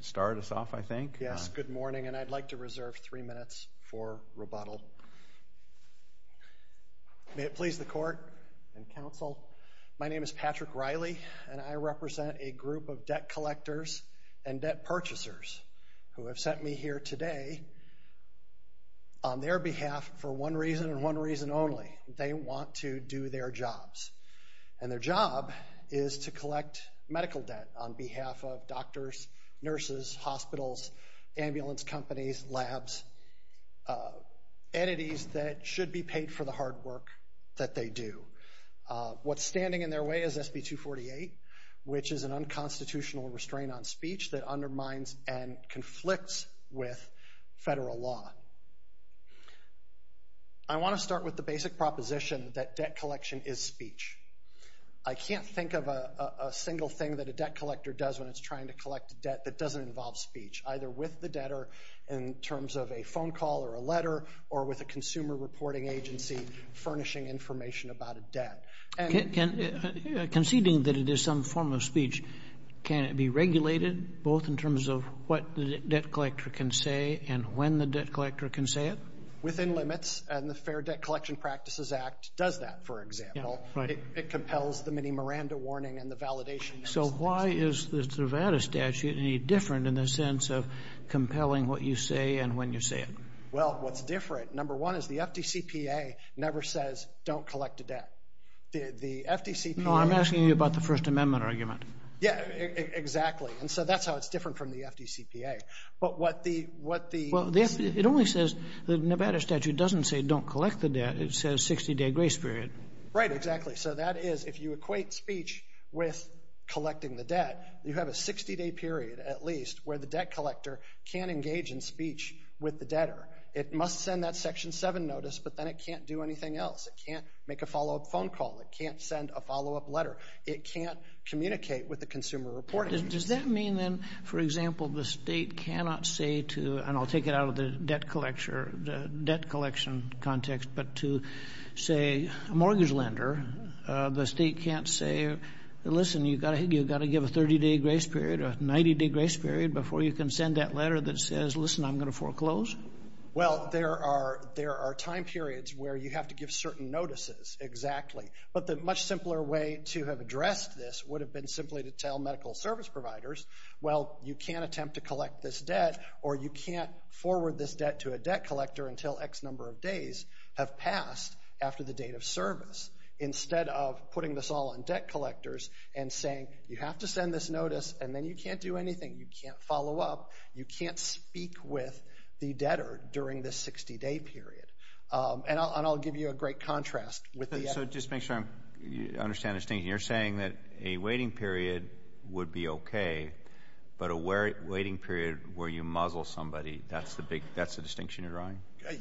Start us off, I think. Yes, good morning. And I'd like to reserve three minutes for rebuttal. May it please the court and counsel, my name is Patrick Riley, and I represent a group of debt collectors and debt purchasers who have sent me here today on their behalf for one reason and one reason only. They want to do their jobs. And their job is to collect medical debt on behalf of doctors, nurses, hospitals, ambulance companies, labs, entities that should be paid for the hard work that they do. What's standing in their way is SB 248, which is an unconstitutional restraint on speech that undermines and conflicts with federal law. I want to start with the basic proposition that debt collection is speech. I can't think of a single thing that a debt collector does when it's trying to collect debt that doesn't involve speech, either with the debtor in terms of a phone call or a letter or with a consumer reporting agency furnishing information about a debt. Conceding that it is some form of speech, can it be regulated both in terms of what the debt collector can say and when the debt collector can say it? Within limits, and the Fair Debt Collection Practices Act does that, for example. It compels the mini Miranda warning and the validation. So why is the Nevada statute any different in the sense of compelling what you say and when you say it? Well, what's different, number one, is the FDCPA never says, don't collect a debt. The FDCPA... No, I'm asking you about the First Amendment argument. Yeah, exactly. And so that's how it's different from the FDCPA. But what the... Well, it only says, the Nevada statute doesn't say, don't collect the debt. It says 60-day grace period. Right, exactly. So that is, if you equate speech with collecting the debt, you have a 60-day period, at least, where the debt collector can't engage in speech with the debtor. It must send that Section 7 notice, but then it can't do anything else. It can't make a follow-up phone call. It can't send a follow-up letter. It can't communicate with the consumer reporting agency. Does that mean, then, for example, the state cannot say to, and I'll take it out of the debt collection context, but to, say, a mortgage lender, the state can't say, listen, you've got to give a 30-day grace period, a 90-day grace period before you can send that letter that says, listen, I'm going to foreclose? Well, there are time periods where you have to give certain notices, exactly. But the much simpler way to have addressed this would have been simply to tell medical service providers, well, you can't attempt to collect this debt, or you can't forward this debt to a debt collector until X number of days have passed after the date of service, instead of putting this all on debt collectors and saying, you have to send this notice, and then you can't do anything. You can't follow up. You can't speak with the debtor during this 60-day period. And I'll give you a great contrast with the other. So just to make sure I understand the distinction, you're saying that a waiting period would be okay, but a waiting period where you muzzle somebody, that's the distinction you're drawing?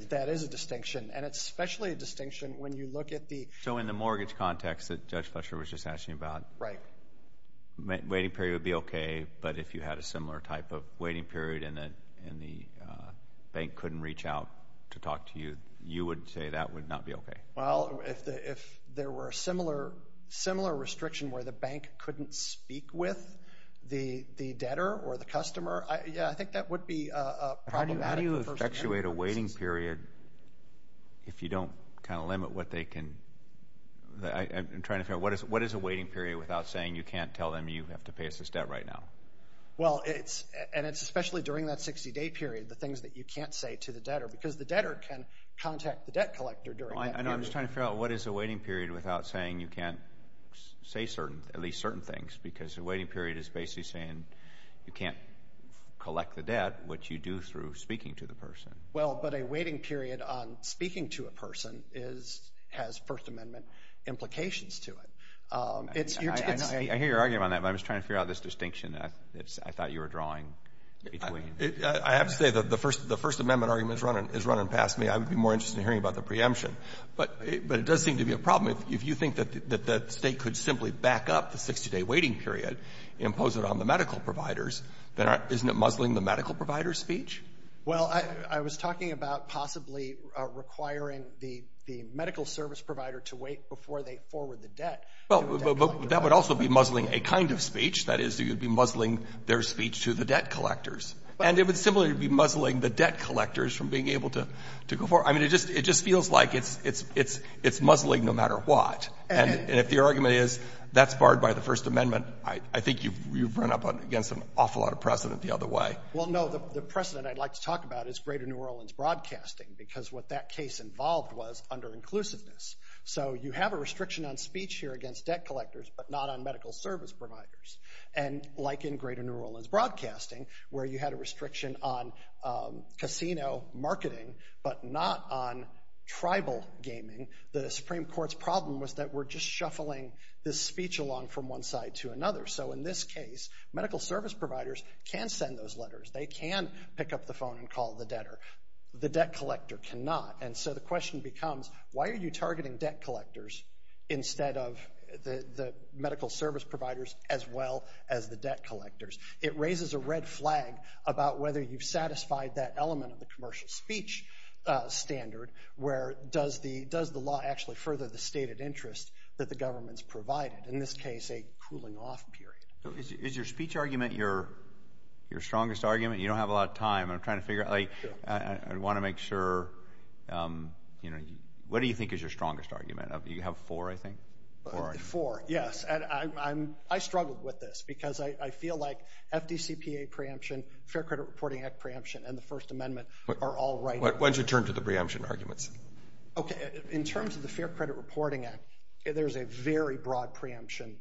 That is a distinction, and it's especially a distinction when you look at the... So in the mortgage context that Judge Fletcher was just asking about, waiting period would be okay, but if you had a similar type of waiting period and the bank couldn't reach out to talk to you, you would say that would not be okay? Well, if there were a similar restriction where the bank couldn't speak with the debtor or the customer, yeah, I think that would be a problem. How do you effectuate a waiting period if you don't kind of limit what they can... I'm trying to figure out, what is a waiting period without saying you can't tell them you have to pay us this debt right now? Well, and it's especially during that 60-day period, the things that you can't say to the debtor, because the debtor can contact the debt collector during that period. I'm just trying to figure out, what is a waiting period without saying you can't say certain, at least certain things, because a waiting period is basically saying you can't collect the debt, which you do through speaking to the person. Well, but a waiting period on speaking to a person has First Amendment implications to it. I hear your argument on that, but I'm just trying to figure out this distinction I thought you were drawing between. I have to say that the First Amendment argument is running past me. I would be more interested in hearing about the preemption, but it does seem to be a problem if you think that the state could simply back up the 60-day waiting period, impose it on the medical providers, then isn't it muzzling the medical provider's speech? Well, I was talking about possibly requiring the medical service provider to wait before they forward the debt. Well, but that would also be muzzling a kind of speech. That is, you'd be muzzling their speech to the debt collectors. And it would similarly be muzzling the debt collectors from being able to go forward. I mean, it just feels like it's muzzling no matter what. And if the argument is that's barred by the First Amendment, I think you've run up against an awful lot of precedent the other way. Well, no, the precedent I'd like to talk about is Greater New Orleans Broadcasting, because what that case involved was under-inclusiveness. So you have a restriction on speech here against debt collectors, but not on medical service providers. And like in Greater New Orleans Broadcasting, where you had a restriction on casino marketing, but not on tribal gaming, the Supreme Court's problem was that we're just shuffling this speech along from one side to another. So in this case, medical service providers can send those letters. They can pick up the phone and call the debtor. The debt collector cannot. And so the question becomes, why are you targeting debt collectors instead of the medical service providers as well as the debt collectors? It raises a red flag about whether you've satisfied that element of the commercial speech standard, where does the law actually further the stated interest that the government's provided? In this case, a cooling-off period. Is your speech argument your strongest argument? You don't have a lot of time. I'm trying to figure out, I want to make sure, what do you think is your strongest argument? You have four, I think? Four, yes, and I struggled with this, because I feel like FDCPA preemption, Fair Credit Reporting Act preemption, and the First Amendment are all right. Why don't you turn to the preemption arguments? Okay, in terms of the Fair Credit Reporting Act, there's a very broad preemption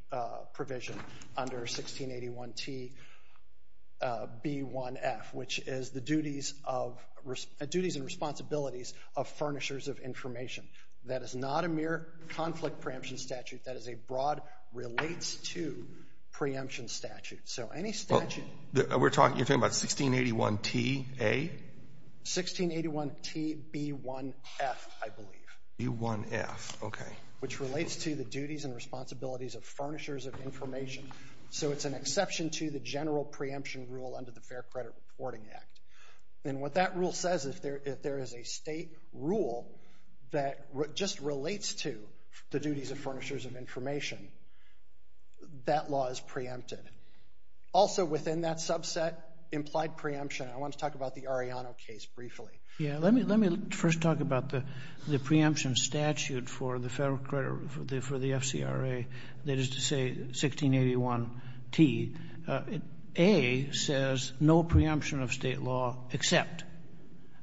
provision under 1681 T.B.1.F., which is the duties and responsibilities of furnishers of information. That is not a mere conflict preemption statute. That is a broad relates-to preemption statute. So any statute... We're talking, you're talking about 1681 T.A.? 1681 T.B.1.F., I believe. T.B.1.F., okay. Which relates to the duties and responsibilities of furnishers of information. So it's an exception to the general preemption rule under the Fair Credit Reporting Act. And what that rule says is if there is a state rule that just relates to the duties of furnishers of information, that law is preempted. Also within that subset, implied preemption, I want to talk about the Arellano case briefly. Yeah, let me first talk about the preemption statute for the Federal Credit, for the FCRA, that is to say 1681 T. A says no preemption of state law except.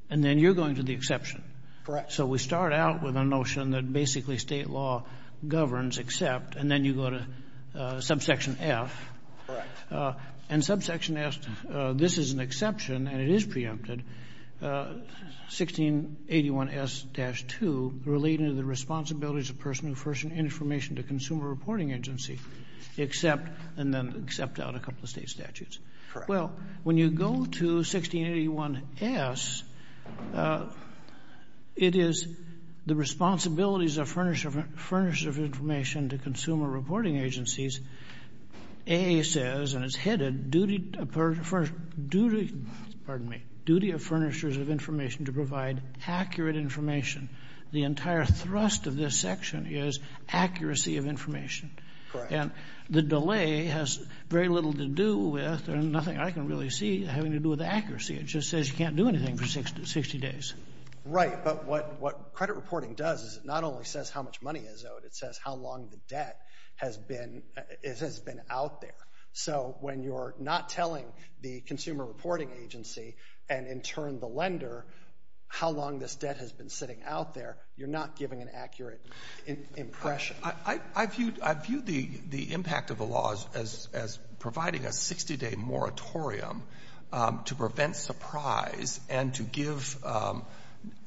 And then you're going to the exception. Correct. So we start out with a notion that basically state law governs except, and then you go to subsection F. Correct. And subsection F, this is an exception, and it is preempted, 1681 S-2, relating to the responsibilities of a person who furnishes information to a consumer reporting agency, except, and then except out a couple of state statutes. Well, when you go to 1681 S, it is the responsibilities of furnishers of information to consumer reporting agencies. A says, and it's headed, duty of furnishers of information to provide accurate information. The entire thrust of this section is accuracy of information. Correct. And the delay has very little to do with, and nothing I can really see having to do with accuracy. It just says you can't do anything for 60 days. Right, but what credit reporting does is it not only says how much money is owed, but it says how long the debt has been out there. So when you're not telling the consumer reporting agency, and in turn the lender, how long this debt has been sitting out there, you're not giving an accurate impression. I view the impact of the laws as providing a 60-day moratorium to prevent surprise and to give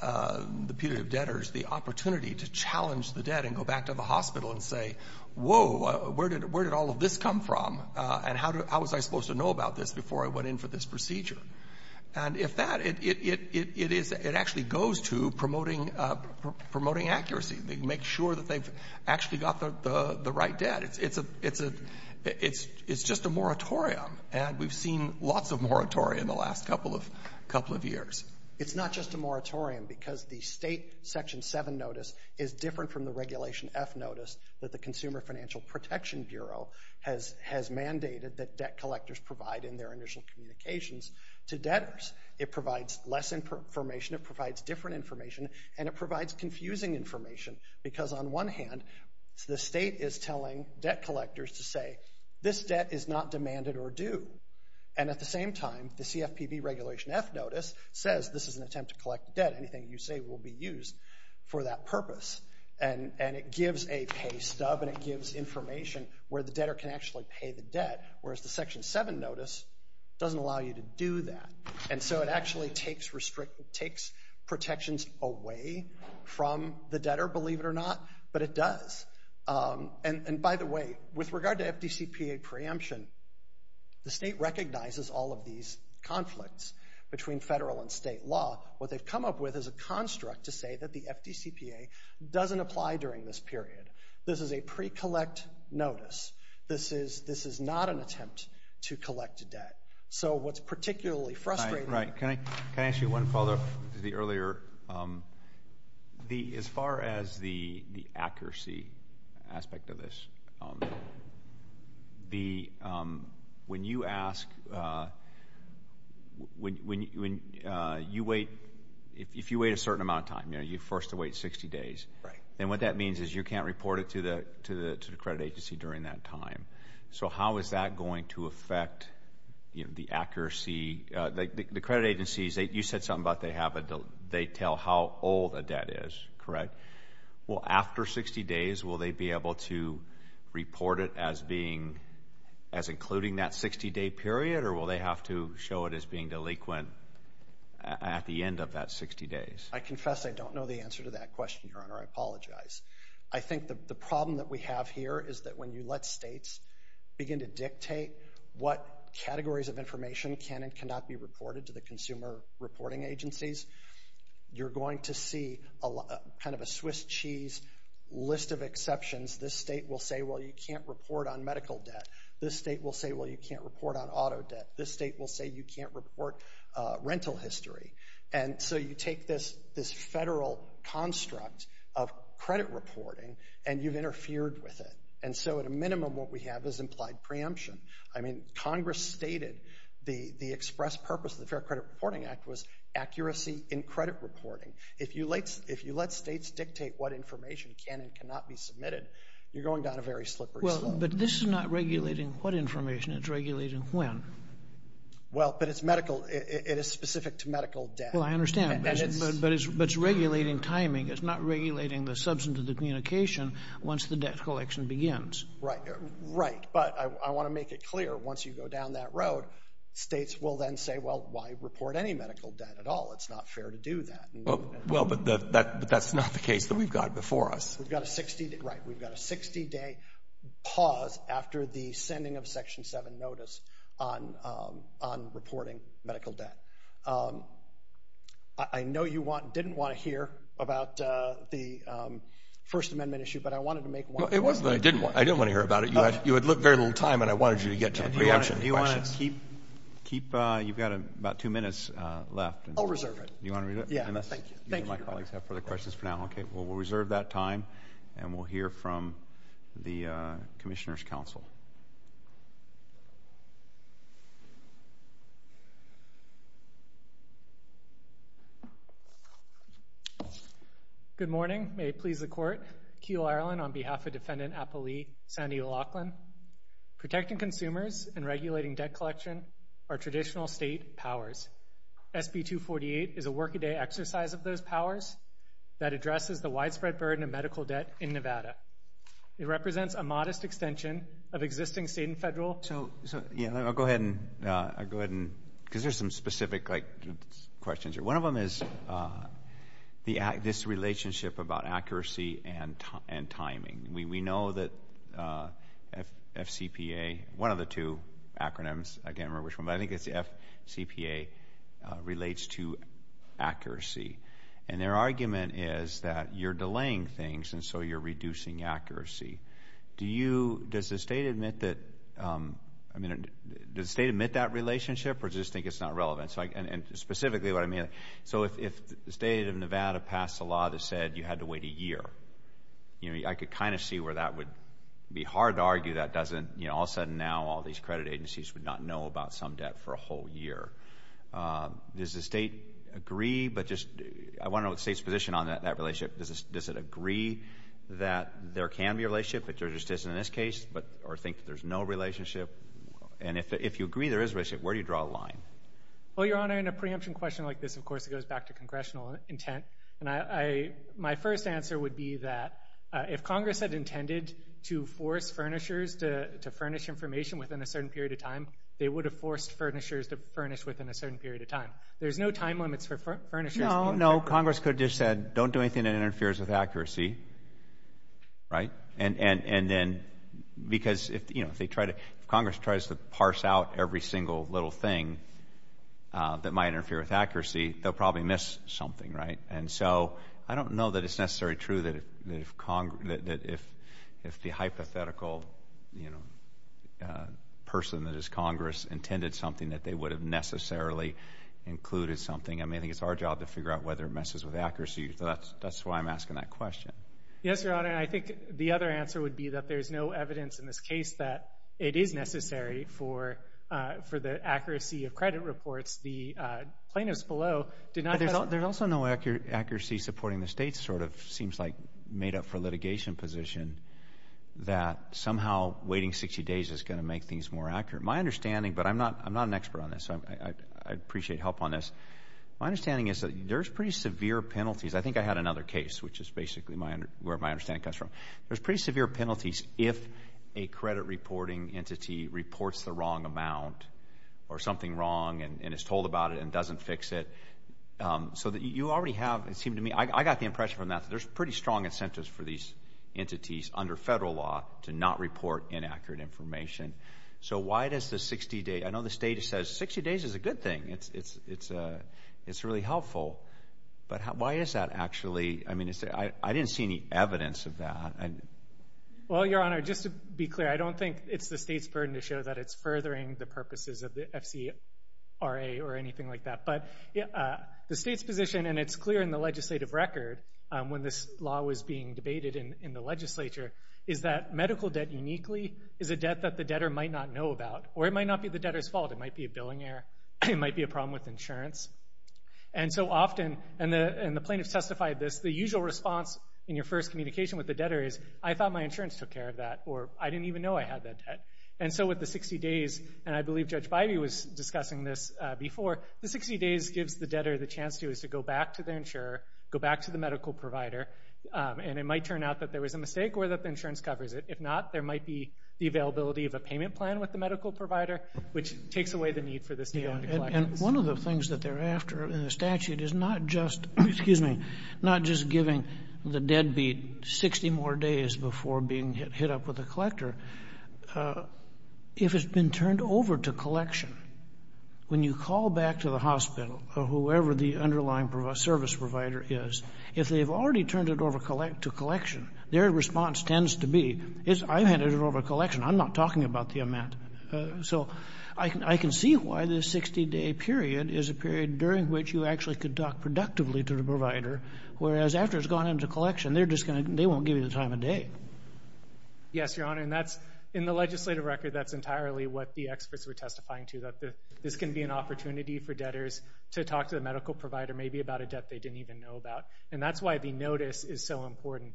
the period of debtors the opportunity to challenge the debt and go back to the hospital and say, whoa, where did all of this come from? And how was I supposed to know about this before I went in for this procedure? And if that, it actually goes to promoting accuracy. They make sure that they've actually got the right debt. It's just a moratorium, and we've seen lots of moratorium the last couple of years. It's not just a moratorium because the state section seven notice is different from the Regulation F notice that the Consumer Financial Protection Bureau has mandated that debt collectors provide in their initial communications to debtors. It provides less information, it provides different information, and it provides confusing information because on one hand, the state is telling debt collectors to say, this debt is not demanded or due. And at the same time, the CFPB Regulation F notice says this is an attempt to collect debt. Anything you say will be used for that purpose. And it gives a pay stub and it gives information where the debtor can actually pay the debt, whereas the section seven notice doesn't allow you to do that. And so it actually takes protections away from the debtor, believe it or not, but it does. And by the way, with regard to FDCPA preemption, the state recognizes all of these conflicts between federal and state law. What they've come up with is a construct to say that the FDCPA doesn't apply during this period. This is a pre-collect notice. This is not an attempt to collect a debt. So what's particularly frustrating- Right, right. Can I ask you one follow-up to the earlier, as far as the accuracy aspect of this, when you ask, if you wait a certain amount of time, you're forced to wait 60 days. Right. And what that means is you can't report it to the credit agency during that time. So how is that going to affect the accuracy? The credit agencies, you said something about they tell how old a debt is, correct? Well, after 60 days, will they be able to report it as being, as including that 60-day period? Or will they have to show it as being delinquent at the end of that 60 days? I confess I don't know the answer to that question, Your Honor, I apologize. I think the problem that we have here is that when you let states begin to dictate what categories of information can and cannot be reported to the consumer reporting agencies, you're going to see kind of a Swiss cheese list of exceptions. This state will say, well, you can't report on medical debt. This state will say, well, you can't report on auto debt. This state will say you can't report rental history. And so you take this federal construct of credit reporting and you've interfered with it. And so at a minimum, what we have is implied preemption. I mean, Congress stated the express purpose of the Fair Credit Reporting Act was accuracy in credit reporting. If you let states dictate what information can and cannot be submitted, you're going down a very slippery slope. But this is not regulating what information, it's regulating when. Well, but it's medical. It is specific to medical debt. Well, I understand, but it's regulating timing. It's not regulating the substance of the communication once the debt collection begins. Right, right. But I want to make it clear, once you go down that road, states will then say, well, why report any medical debt at all? It's not fair to do that. Well, but that's not the case that we've got before us. We've got a 60, right. We've got a 60-day pause after the sending of Section 7 notice on reporting medical debt. I know you didn't want to hear about the First Amendment issue, but I wanted to make one comment. Well, it wasn't that I didn't want to. I didn't want to hear about it. You had very little time, and I wanted you to get to the preemption questions. Do you want to keep, you've got about two minutes left. I'll reserve it. Do you want to reserve it? Yeah, thank you. My colleagues have further questions for now. Okay, well, we'll reserve that time, and we'll hear from the Commissioner's Council. Good morning. May it please the Court. Keel Ireland on behalf of Defendant Appali, Sandy Laughlin. Protecting consumers and regulating debt collection are traditional state powers. SB 248 is a work-a-day exercise of those powers that addresses the widespread burden of medical debt in Nevada. It represents a modest extension of existing state and federal. So, yeah, I'll go ahead and, because there's some specific questions here. One of them is this relationship about accuracy and timing. We know that FCPA, one of the two acronyms, I can't remember which one, but I think it's the FCPA, relates to accuracy. And their argument is that you're delaying things, and so you're reducing accuracy. Do you, does the state admit that, I mean, does the state admit that relationship, or does it just think it's not relevant? And specifically what I mean, so if the state of Nevada passed a law that said you had to wait a year, I could kind of see where that would be hard to argue that doesn't, all of a sudden now, all these credit agencies would not know about some debt for a whole year. Does the state agree, but just, I wanna know the state's position on that relationship. Does it agree that there can be a relationship, which there just isn't in this case, or think that there's no relationship? And if you agree there is a relationship, where do you draw the line? Well, Your Honor, in a preemption question like this, of course, it goes back to congressional intent. And I, my first answer would be that if Congress had intended to force furnishers to furnish information within a certain period of time, they would have forced furnishers to furnish within a certain period of time. There's no time limits for furnishers. No, no, Congress could have just said, don't do anything that interferes with accuracy, right? And then, because if they try to, Congress tries to parse out every single little thing that might interfere with accuracy, they'll probably miss something, right? And so, I don't know that it's necessarily true that if the hypothetical, you know, person that is Congress intended something that they would have necessarily included something. I mean, I think it's our job to figure out whether it messes with accuracy. That's why I'm asking that question. Yes, Your Honor, and I think the other answer would be that there's no evidence in this case that it is necessary for the accuracy of credit reports. The plaintiffs below did not- There's also no accuracy supporting the state's sort of seems like made up for litigation position that somehow waiting 60 days is gonna make things more accurate. My understanding, but I'm not an expert on this, so I appreciate help on this. My understanding is that there's pretty severe penalties. I think I had another case, which is basically where my understanding comes from. There's pretty severe penalties if a credit reporting entity reports the wrong amount or something wrong and is told about it and doesn't fix it. So that you already have, it seemed to me, I got the impression from that that there's pretty strong incentives for these entities under federal law to not report inaccurate information. So why does the 60 day? I know the state says 60 days is a good thing. It's really helpful, but why is that actually? I mean, I didn't see any evidence of that. Well, Your Honor, just to be clear, I don't think it's the state's burden to show that it's furthering the purposes of the FCRA or anything like that. But the state's position, and it's clear in the legislative record when this law was being debated in the legislature is that medical debt uniquely is a debt that the debtor might not know about, or it might not be the debtor's fault. It might be a billing error. It might be a problem with insurance. And so often, and the plaintiffs testified this, the usual response in your first communication with the debtor is, I thought my insurance took care of that, or I didn't even know I had that debt. And so with the 60 days, and I believe Judge Bivey was discussing this before, the 60 days gives the debtor the chance to go back to their insurer, go back to the medical provider, and it might turn out that there was a mistake or that the insurance covers it. If not, there might be the availability of a payment plan with the medical provider, which takes away the need for this to go into collection. And one of the things that they're after in the statute is not just, excuse me, not just giving the deadbeat 60 more days before being hit up with a collector. If it's been turned over to collection, when you call back to the hospital or whoever the underlying service provider is, if they've already turned it over to collection, their response tends to be, I've handed it over to collection, I'm not talking about the amount. So I can see why the 60-day period is a period during which you actually could talk productively to the provider, whereas after it's gone into collection, they won't give you the time of day. Yes, Your Honor, and in the legislative record, that's entirely what the experts were testifying to, that this can be an opportunity for debtors to talk to the medical provider maybe about a debt they didn't even know about. And that's why the notice is so important.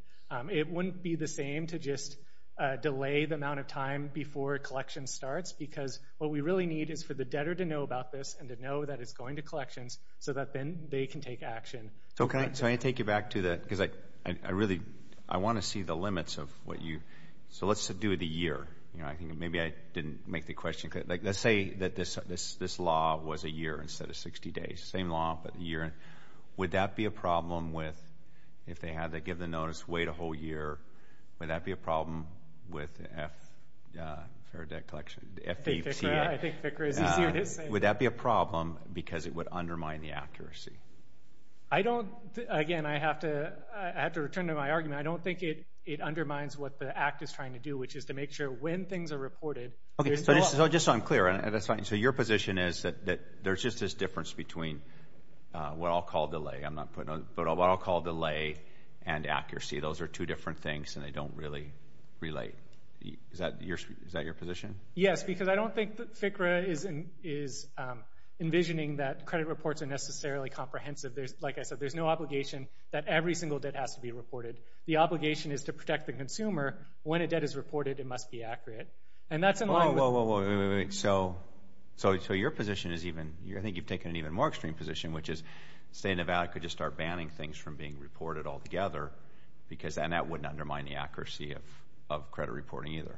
It wouldn't be the same to just delay the amount of time before a collection starts, because what we really need is for the debtor to know about this and to know that it's going to collections so that then they can take action. So can I take you back to that? Because I really, I want to see the limits of what you, so let's do the year. I think maybe I didn't make the question clear. Let's say that this law was a year instead of 60 days. Same law, but a year. Would that be a problem with, if they had to give the notice, wait a whole year, would that be a problem with the FDPCA? I think FICRA is easier to say. Would that be a problem because it would undermine the accuracy? I don't, again, I have to return to my argument. I don't think it undermines what the Act is trying to do, which is to make sure when things are reported. Okay, so just so I'm clear, so your position is that there's just this difference between what I'll call delay, I'm not putting, but what I'll call delay and accuracy. Those are two different things, and they don't really relate. Is that your position? Yes, because I don't think that FICRA is envisioning that credit reports are necessarily comprehensive. Like I said, there's no obligation that every single debt has to be reported. The obligation is to protect the consumer. When a debt is reported, it must be accurate. And that's in line with- Whoa, whoa, whoa, whoa, wait, wait, wait, wait. So your position is even, I think you've taken an even more extreme position, which is the state of Nevada could just start banning things from being reported altogether, because then that wouldn't undermine the accuracy of credit reporting either.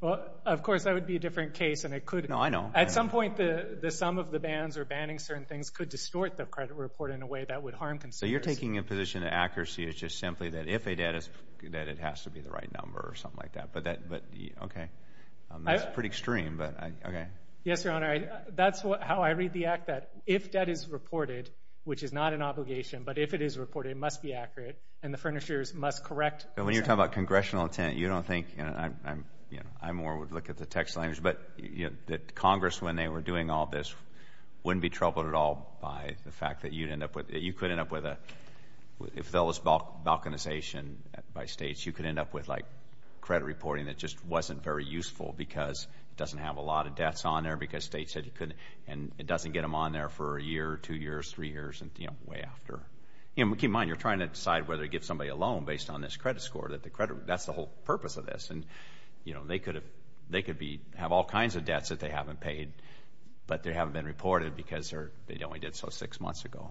Well, of course, that would be a different case, and it could- No, I know. At some point, the sum of the bans or banning certain things could distort the credit report in a way that would harm consumers. So you're taking a position that accuracy is just simply that if a debt is, that it has to be the right number or something like that. But that, but, okay, that's pretty extreme, but okay. Yes, Your Honor. That's how I read the act, that if debt is reported, which is not an obligation, but if it is reported, it must be accurate, and the furnishers must correct- And when you're talking about congressional intent, you don't think, and I more would look at the text language, but that Congress, when they were doing all this, wouldn't be troubled at all by the fact that you'd end up with, you could end up with a, if there was balkanization by states, you could end up with credit reporting that just wasn't very useful because it doesn't have a lot of debts on there because states said you couldn't, and it doesn't get them on there for a year, two years, three years, and, you know, way after. And keep in mind, you're trying to decide whether to give somebody a loan based on this credit score, that the credit, that's the whole purpose of this. And, you know, they could have, they could be, have all kinds of debts that they haven't paid, but they haven't been reported because they only did so six months ago.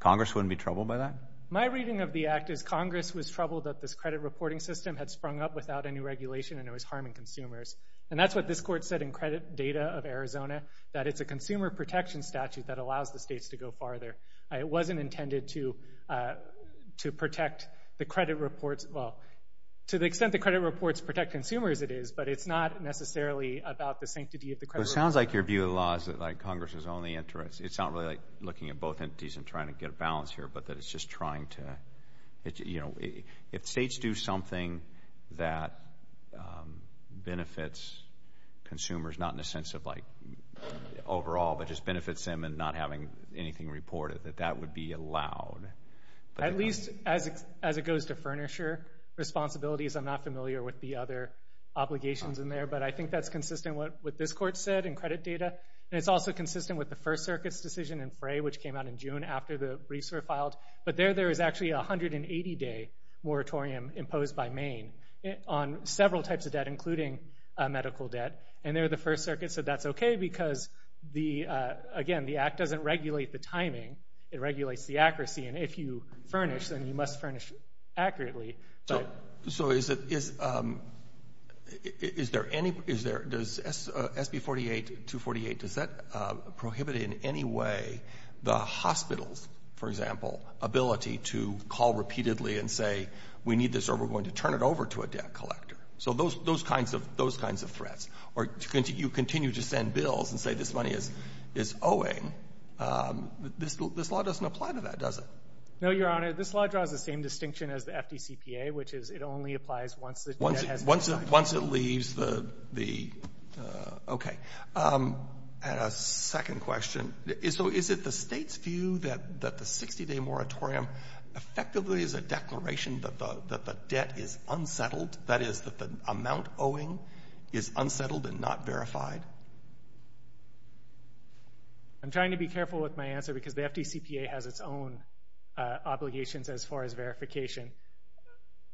Congress wouldn't be troubled by that? My reading of the act is Congress was troubled that this credit reporting system had sprung up without any regulation and it was harming consumers. And that's what this court said in credit data of Arizona, that it's a consumer protection statute that allows the states to go farther. It wasn't intended to protect the credit reports, well, to the extent the credit reports protect consumers, it is, but it's not necessarily about the sanctity of the credit report. It sounds like your view of the law is that, like, Congress is only interested, it's not really like looking at both entities and trying to get a balance here, but that it's just trying to, you know, if states do something that benefits consumers, not in a sense of, like, overall, but just benefits them and not having anything reported, that that would be allowed. At least as it goes to furnisher responsibilities, I'm not familiar with the other obligations in there, but I think that's consistent with what this court said in credit data, and it's also consistent with the First Circuit's decision in Fray, which came out in June after the briefs were filed. But there, there is actually a 180-day moratorium imposed by Maine on several types of debt, including medical debt, and they're the First Circuit, so that's okay because, again, the Act doesn't regulate the timing, it regulates the accuracy, and if you furnish, then you must furnish accurately, but. So is there any, does SB 48, 248, does that prohibit in any way the hospitals, for example, ability to call repeatedly and say, we need this or we're going to turn it over to a debt collector? So those kinds of threats. Or you continue to send bills and say this money is owing, this law doesn't apply to that, does it? No, Your Honor, this law draws the same distinction as the FDCPA, which is it only applies once the debt has been signed off. Once it leaves the, okay. And a second question, so is it the state's view that the 60-day moratorium effectively is a declaration that the debt is unsettled, that is, that the amount owing is unsettled and not verified? I'm trying to be careful with my answer because the FDCPA has its own obligations as far as verification.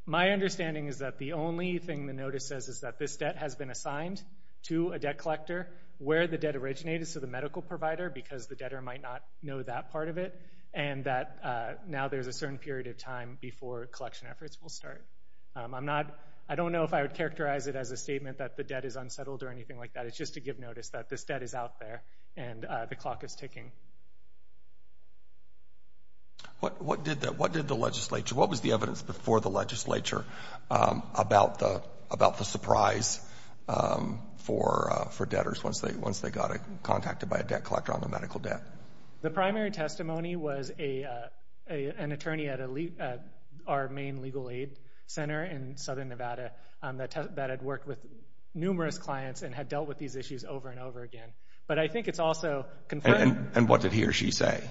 My understanding is that the only thing the notice says is that this debt has been assigned to a debt collector. Where the debt originated is to the medical provider because the debtor might not know that part of it. And that now there's a certain period of time before collection efforts will start. I'm not, I don't know if I would characterize it as a statement that the debt is unsettled or anything like that. It's just to give notice that this debt is out there and the clock is ticking. What did the legislature, what was the evidence before the legislature about the surprise for debtors once they got contacted by a debt collector on the medical debt? The primary testimony was an attorney at our main legal aid center in Southern Nevada that had worked with numerous clients and had dealt with these issues over and over again. But I think it's also confirmed. And what did he or she say?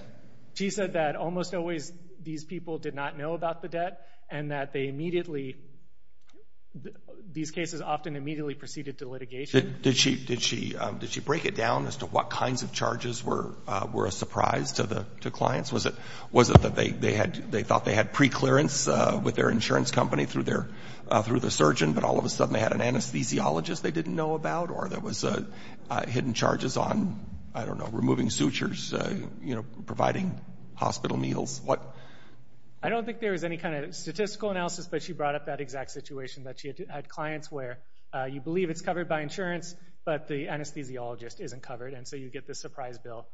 She said that almost always these people did not know about the debt and that they immediately, these cases often immediately proceeded to litigation. Did she break it down as to what kinds of charges were a surprise to clients? Was it that they thought they had pre-clearance with their insurance company through the surgeon, but all of a sudden they had an anesthesiologist they didn't know about? Or there was hidden charges on, I don't know, removing sutures, providing hospital meals, what? I don't think there was any kind of statistical analysis, but she brought up that exact situation that she had clients where you believe it's covered by insurance, but the anesthesiologist isn't covered. And so you get the surprise bill.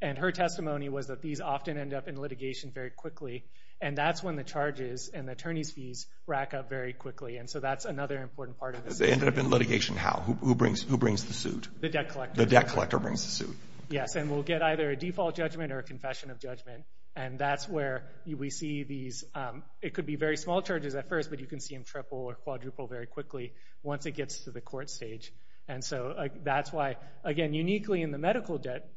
And her testimony was that these often end up in litigation very quickly. And that's when the charges and the attorney's fees rack up very quickly. And so that's another important part of this. They ended up in litigation, how? Who brings the suit? The debt collector. The debt collector brings the suit. Yes, and we'll get either a default judgment or a confession of judgment. And that's where we see these, it could be very small charges at first, but you can see them triple or quadruple very quickly once it gets to the court stage. And so that's why, again, uniquely in the medical debt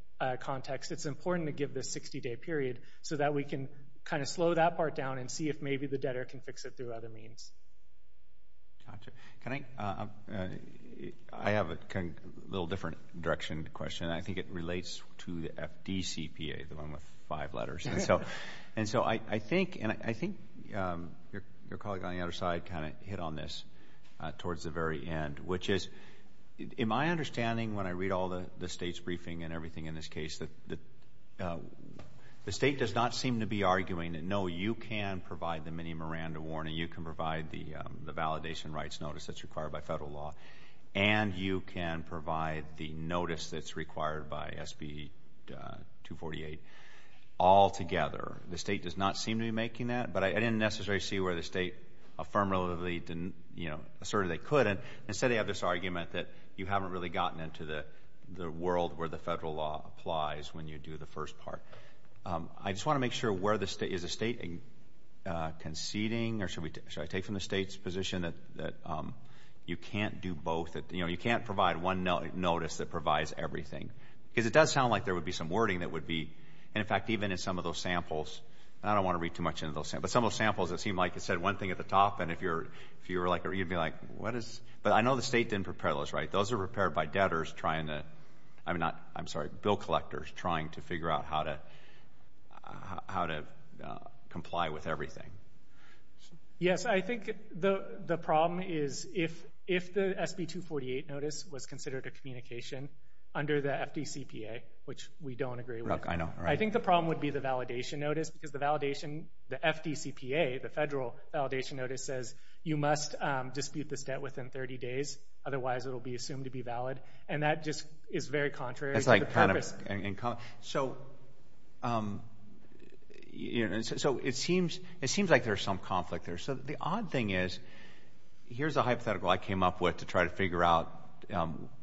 context, it's important to give this 60-day period so that we can kind of slow that part down and see if maybe the debtor can fix it through other means. Gotcha. Can I, I have a little different direction question. I think it relates to the FDCPA, the one with five letters. And so I think your colleague on the other side kind of hit on this towards the very end, which is, in my understanding, when I read all the state's briefing and everything in this case, the state does not seem to be arguing that, no, you can provide the Minnie Miranda warning, you can provide the validation rights notice that's required by federal law, and you can provide the notice that's required by SB 248 altogether. The state does not seem to be making that, but I didn't necessarily see where the state affirmatively asserted they couldn't. Instead, they have this argument that you haven't really gotten into the world where the federal law applies when you do the first part. I just want to make sure, is the state conceding, or should I take from the state's position that you can't do both, you can't provide one notice that provides everything? Because it does sound like there would be some wording that would be, and in fact, even in some of those samples, and I don't want to read too much into those, but some of those samples, it seemed like it said one thing at the top, and if you were like, you'd be like, what is, but I know the state didn't prepare those, right? Those are prepared by debtors trying to, I'm not, I'm sorry, bill collectors trying to figure out how to comply with everything. Yes, I think the problem is if the SB 248 notice was considered a communication under the FDCPA, which we don't agree with, I think the problem would be the validation notice, because the validation, the FDCPA, the federal validation notice says, you must dispute this debt within 30 days, otherwise it'll be assumed to be valid, and that just is very contrary to the purpose. It's like kind of, so, so it seems like there's some conflict there. So the odd thing is, here's a hypothetical I came up with to try to figure out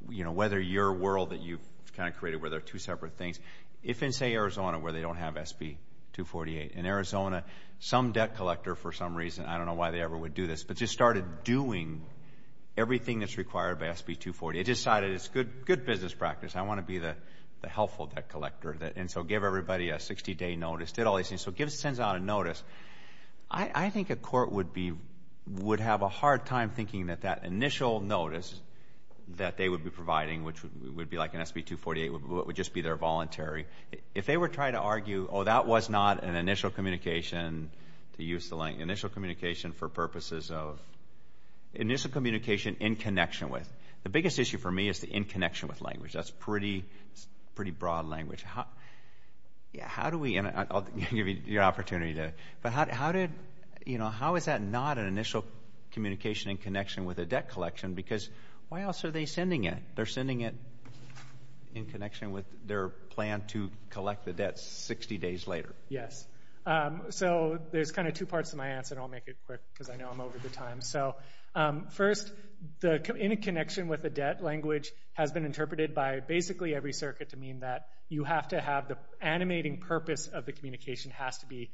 whether your world that you've kind of created where there are two separate things, if in, say, Arizona, where they don't have SB 248, in Arizona, some debt collector, for some reason, I don't know why they ever would do this, but just started doing everything that's required by SB 248, decided it's good business practice, I want to be the helpful debt collector, and so give everybody a 60-day notice, did all these things, so sends out a notice. I think a court would be, would have a hard time thinking that that initial notice that they would be providing, would just be their voluntary. If they were trying to argue, oh, that was not an initial communication to use the, initial communication for purposes of, initial communication in connection with. The biggest issue for me is the in connection with language. That's pretty, pretty broad language. Yeah, how do we, and I'll give you the opportunity to, but how did, you know, how is that not an initial communication in connection with a debt collection? Because why else are they sending it? They're sending it in connection with their plan to collect the debt 60 days later. Yes, so there's kind of two parts to my answer, and I'll make it quick because I know I'm over the time. So first, the in connection with the debt language has been interpreted by basically every circuit to mean that you have to have the animating purpose of the communication has to be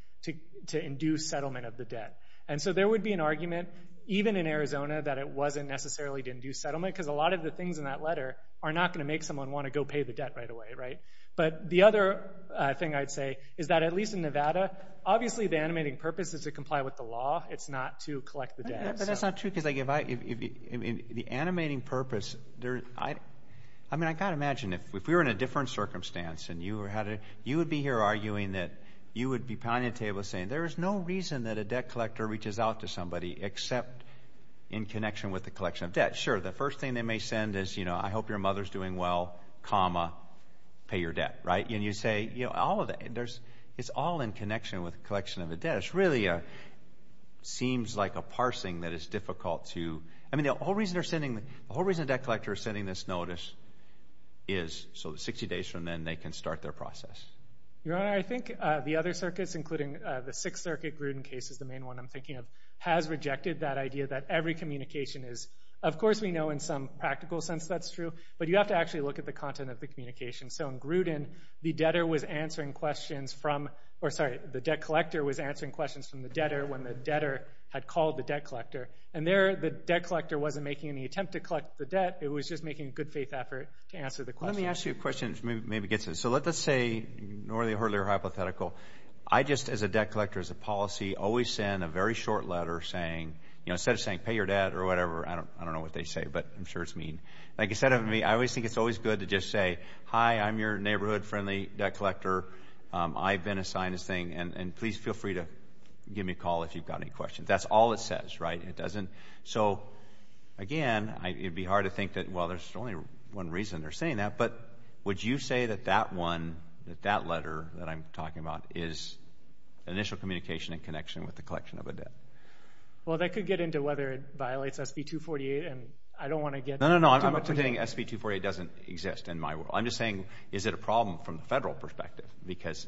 to induce settlement of the debt. And so there would be an argument, even in Arizona, that it wasn't necessarily to induce settlement, because a lot of the things in that letter are not going to make someone want to go pay the debt right away, right? But the other thing I'd say is that, at least in Nevada, obviously the animating purpose is to comply with the law. It's not to collect the debt. But that's not true, because if I, the animating purpose, I mean, I gotta imagine, if we were in a different circumstance, and you were having, you would be here arguing that you would be pounding the table saying, there is no reason that a debt collector reaches out to somebody except in connection with the collection of debt. Sure, the first thing they may send is, you know, I hope your mother's doing well, comma, pay your debt. Right? And you say, you know, all of that, it's all in connection with the collection of the debt. It's really a, seems like a parsing that is difficult to, I mean, the whole reason they're sending, the whole reason a debt collector is sending this notice is so that 60 days from then they can start their process. Your Honor, I think the other circuits, including the Sixth Circuit Gruden case is the main one I'm thinking of, has rejected that idea that every communication is, of course, we know in some practical sense that's true, but you have to actually look at the content of the communication. So in Gruden, the debtor was answering questions from, or sorry, the debt collector was answering questions from the debtor when the debtor had called the debt collector and there the debt collector wasn't making any attempt to collect the debt, it was just making a good faith effort to answer the question. Let me ask you a question, maybe gets it. So let's say, nor the earlier hypothetical, I just, as a debt collector, as a policy, always send a very short letter saying, you know, instead of saying pay your debt or whatever, I don't know what they say, but I'm sure it's mean. Like you said to me, I always think it's always good to just say, hi, I'm your neighborhood friendly debt collector, I've been assigned this thing and please feel free to give me a call if you've got any questions. That's all it says, right? It doesn't, so again, it'd be hard to think that, well, there's only one reason they're saying that, but would you say that that one, that that letter that I'm talking about is initial communication in connection with the collection of a debt? Well, that could get into whether it violates SB 248 and I don't want to get too much into it. No, no, no, I'm not saying SB 248 doesn't exist in my world, I'm just saying, is it a problem from the federal perspective? Because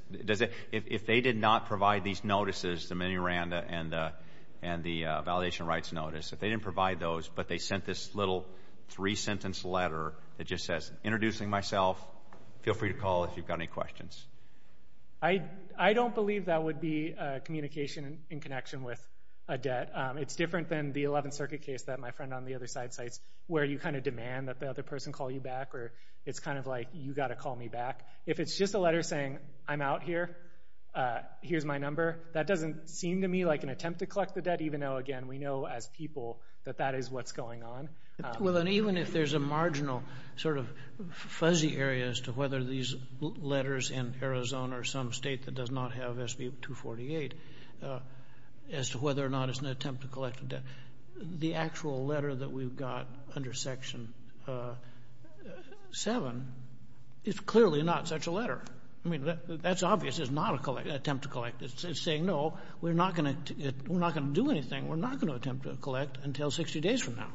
if they did not provide these notices, the mini RANDA and the validation rights notice, if they didn't provide those, but they sent this little three sentence letter that just says, introducing myself, feel free to call if you've got any questions. I don't believe that would be communication in connection with a debt. It's different than the 11th Circuit case that my friend on the other side cites, where you kind of demand that the other person call you back, or it's kind of like, you gotta call me back. If it's just a letter saying, I'm out here, here's my number, that doesn't seem to me like an attempt to collect the debt, even though, again, we know as people that that is what's going on. Well, and even if there's a marginal sort of fuzzy area as to whether these letters in Arizona or some state that does not have SB 248, as to whether or not it's an attempt to collect the debt, the actual letter that we've got under Section 7 is clearly not such a letter. I mean, that's obvious, it's not an attempt to collect. It's saying, no, we're not gonna do anything. We're not gonna attempt to collect until 60 days from now.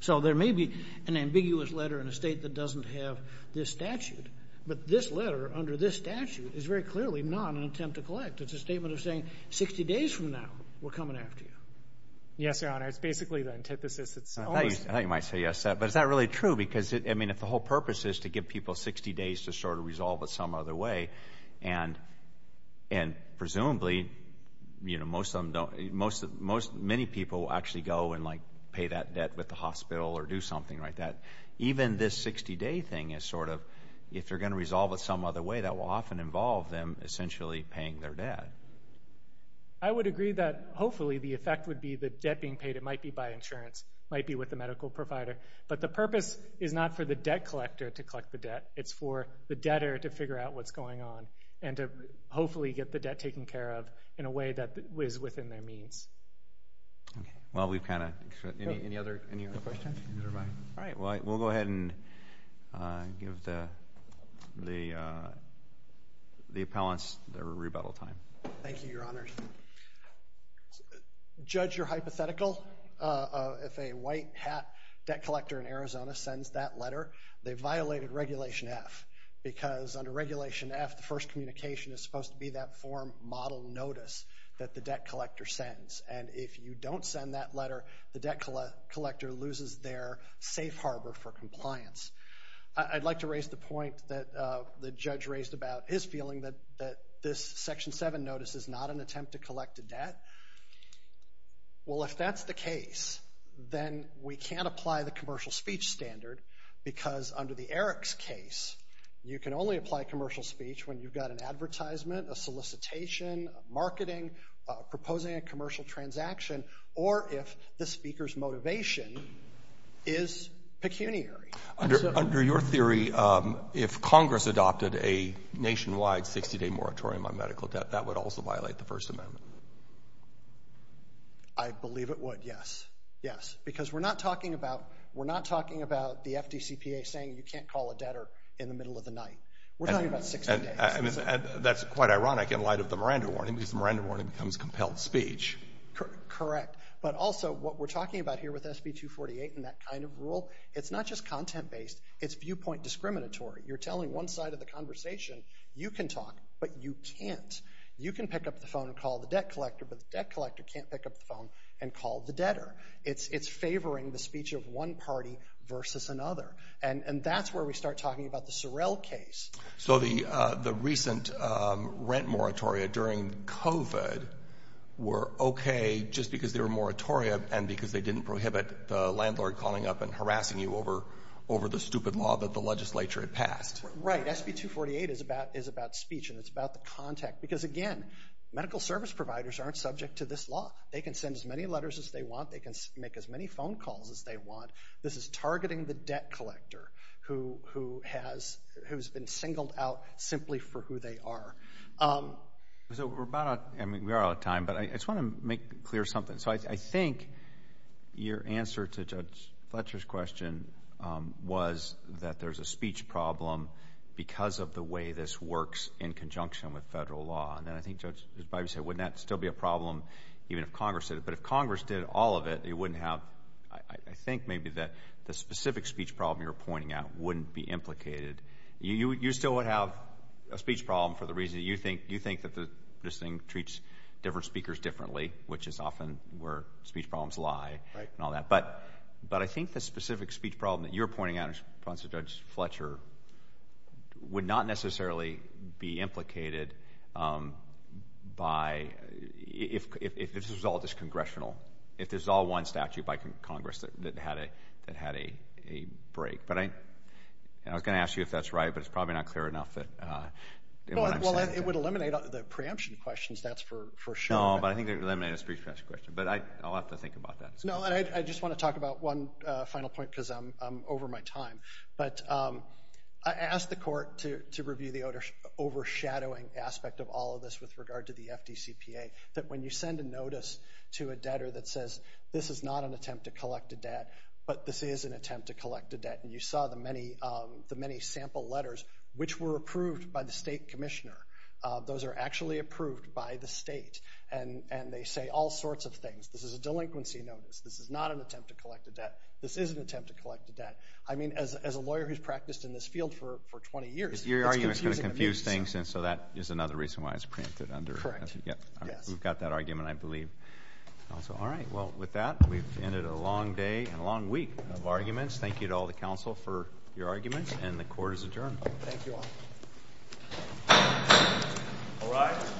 So there may be an ambiguous letter in a state that doesn't have this statute, but this letter under this statute is very clearly not an attempt to collect. It's a statement of saying, 60 days from now, we're coming after you. Yes, Your Honor, it's basically the antithesis, it's always- I thought you might say yes to that, but is that really true? Because I mean, if the whole purpose is to give people 60 days to sort of resolve it some other way, and presumably, many people will actually go and pay that debt with the hospital or do something like that. Even this 60 day thing is sort of, if they're gonna resolve it some other way, that will often involve them essentially paying their debt. I would agree that hopefully, the effect would be the debt being paid, it might be by insurance, might be with the medical provider. But the purpose is not for the debt collector to collect the debt, it's for the debtor to figure out what's going on and to hopefully get the debt taken care of in a way that is within their means. Well, we've kind of- Any other questions? All right, well, we'll go ahead and give the appellants their rebuttal time. Thank you, Your Honor. Judge, you're hypothetical. If a white hat debt collector in Arizona sends that letter, they violated Regulation F, because under Regulation F, the first communication is supposed to be that form model notice that the debt collector sends. And if you don't send that letter, the debt collector loses their safe harbor for compliance. I'd like to raise the point that the judge raised about his feeling that this Section 7 notice is not an attempt to collect a debt. Well, if that's the case, then we can't apply the commercial speech standard, because under the Eric's case, you can only apply commercial speech when you've got an advertisement, a solicitation, marketing, proposing a commercial transaction, or if the speaker's motivation is pecuniary. Under your theory, if Congress adopted a nationwide 60-day moratorium on medical debt, that would also violate the First Amendment. I believe it would, yes. Yes, because we're not talking about the FDCPA saying you can't call a debtor in the middle of the night. We're talking about 60 days. That's quite ironic in light of the Miranda warning, because the Miranda warning becomes compelled speech. Correct, but also what we're talking about here with SB 248 and that kind of rule, it's not just content-based, it's viewpoint discriminatory. You're telling one side of the conversation, you can talk, but you can't. You can pick up the phone and call the debt collector, but the debt collector can't pick up the phone and call the debtor. It's favoring the speech of one party versus another, and that's where we start talking about the Sorrell case. So the recent rent moratoria during COVID were okay just because they were moratoria and because they didn't prohibit the landlord calling up and harassing you over the stupid law that the legislature had passed. Right, SB 248 is about speech and it's about the contact, because again, medical service providers aren't subject to this law. They can send as many letters as they want. They can make as many phone calls as they want. This is targeting the debt collector who has been singled out simply for who they are. So we're about out, I mean, we are out of time, but I just want to make clear something. So I think your answer to Judge Fletcher's question was that there's a speech problem because of the way this works in conjunction with federal law. And then I think Judge Bibas said, wouldn't that still be a problem even if Congress did it? But if Congress did all of it, it wouldn't have, I think maybe that the specific speech problem you were pointing out wouldn't be implicated. You still would have a speech problem for the reason that you think that this thing treats different speakers differently, which is often where speech problems lie and all that. But I think the specific speech problem that you're pointing out in response to Judge Fletcher would not necessarily be implicated by, if this was all just congressional, if there's all one statute by Congress that had a break. But I was gonna ask you if that's right, but it's probably not clear enough that what I'm saying. Well, it would eliminate the preemption questions, that's for sure. No, but I think it would eliminate a speech pressure question. But I'll have to think about that. No, and I just wanna talk about one final point because I'm over my time. But I asked the court to review the overshadowing aspect of all of this with regard to the FDCPA, that when you send a notice to a debtor that says, this is not an attempt to collect a debt, but this is an attempt to collect a debt, and you saw the many sample letters, which were approved by the state commissioner. Those are actually approved by the state. And they say all sorts of things. This is a delinquency notice. This is not an attempt to collect a debt. This is an attempt to collect a debt. I mean, as a lawyer who's practiced in this field for 20 years, it's confusing to me. Your argument's gonna confuse things, and so that is another reason why it's printed under. Correct, yes. We've got that argument, I believe. Also, all right, well, with that, we've ended a long day and a long week of arguments. Thank you to all the counsel for your arguments, and the court is adjourned. Thank you all. All rise.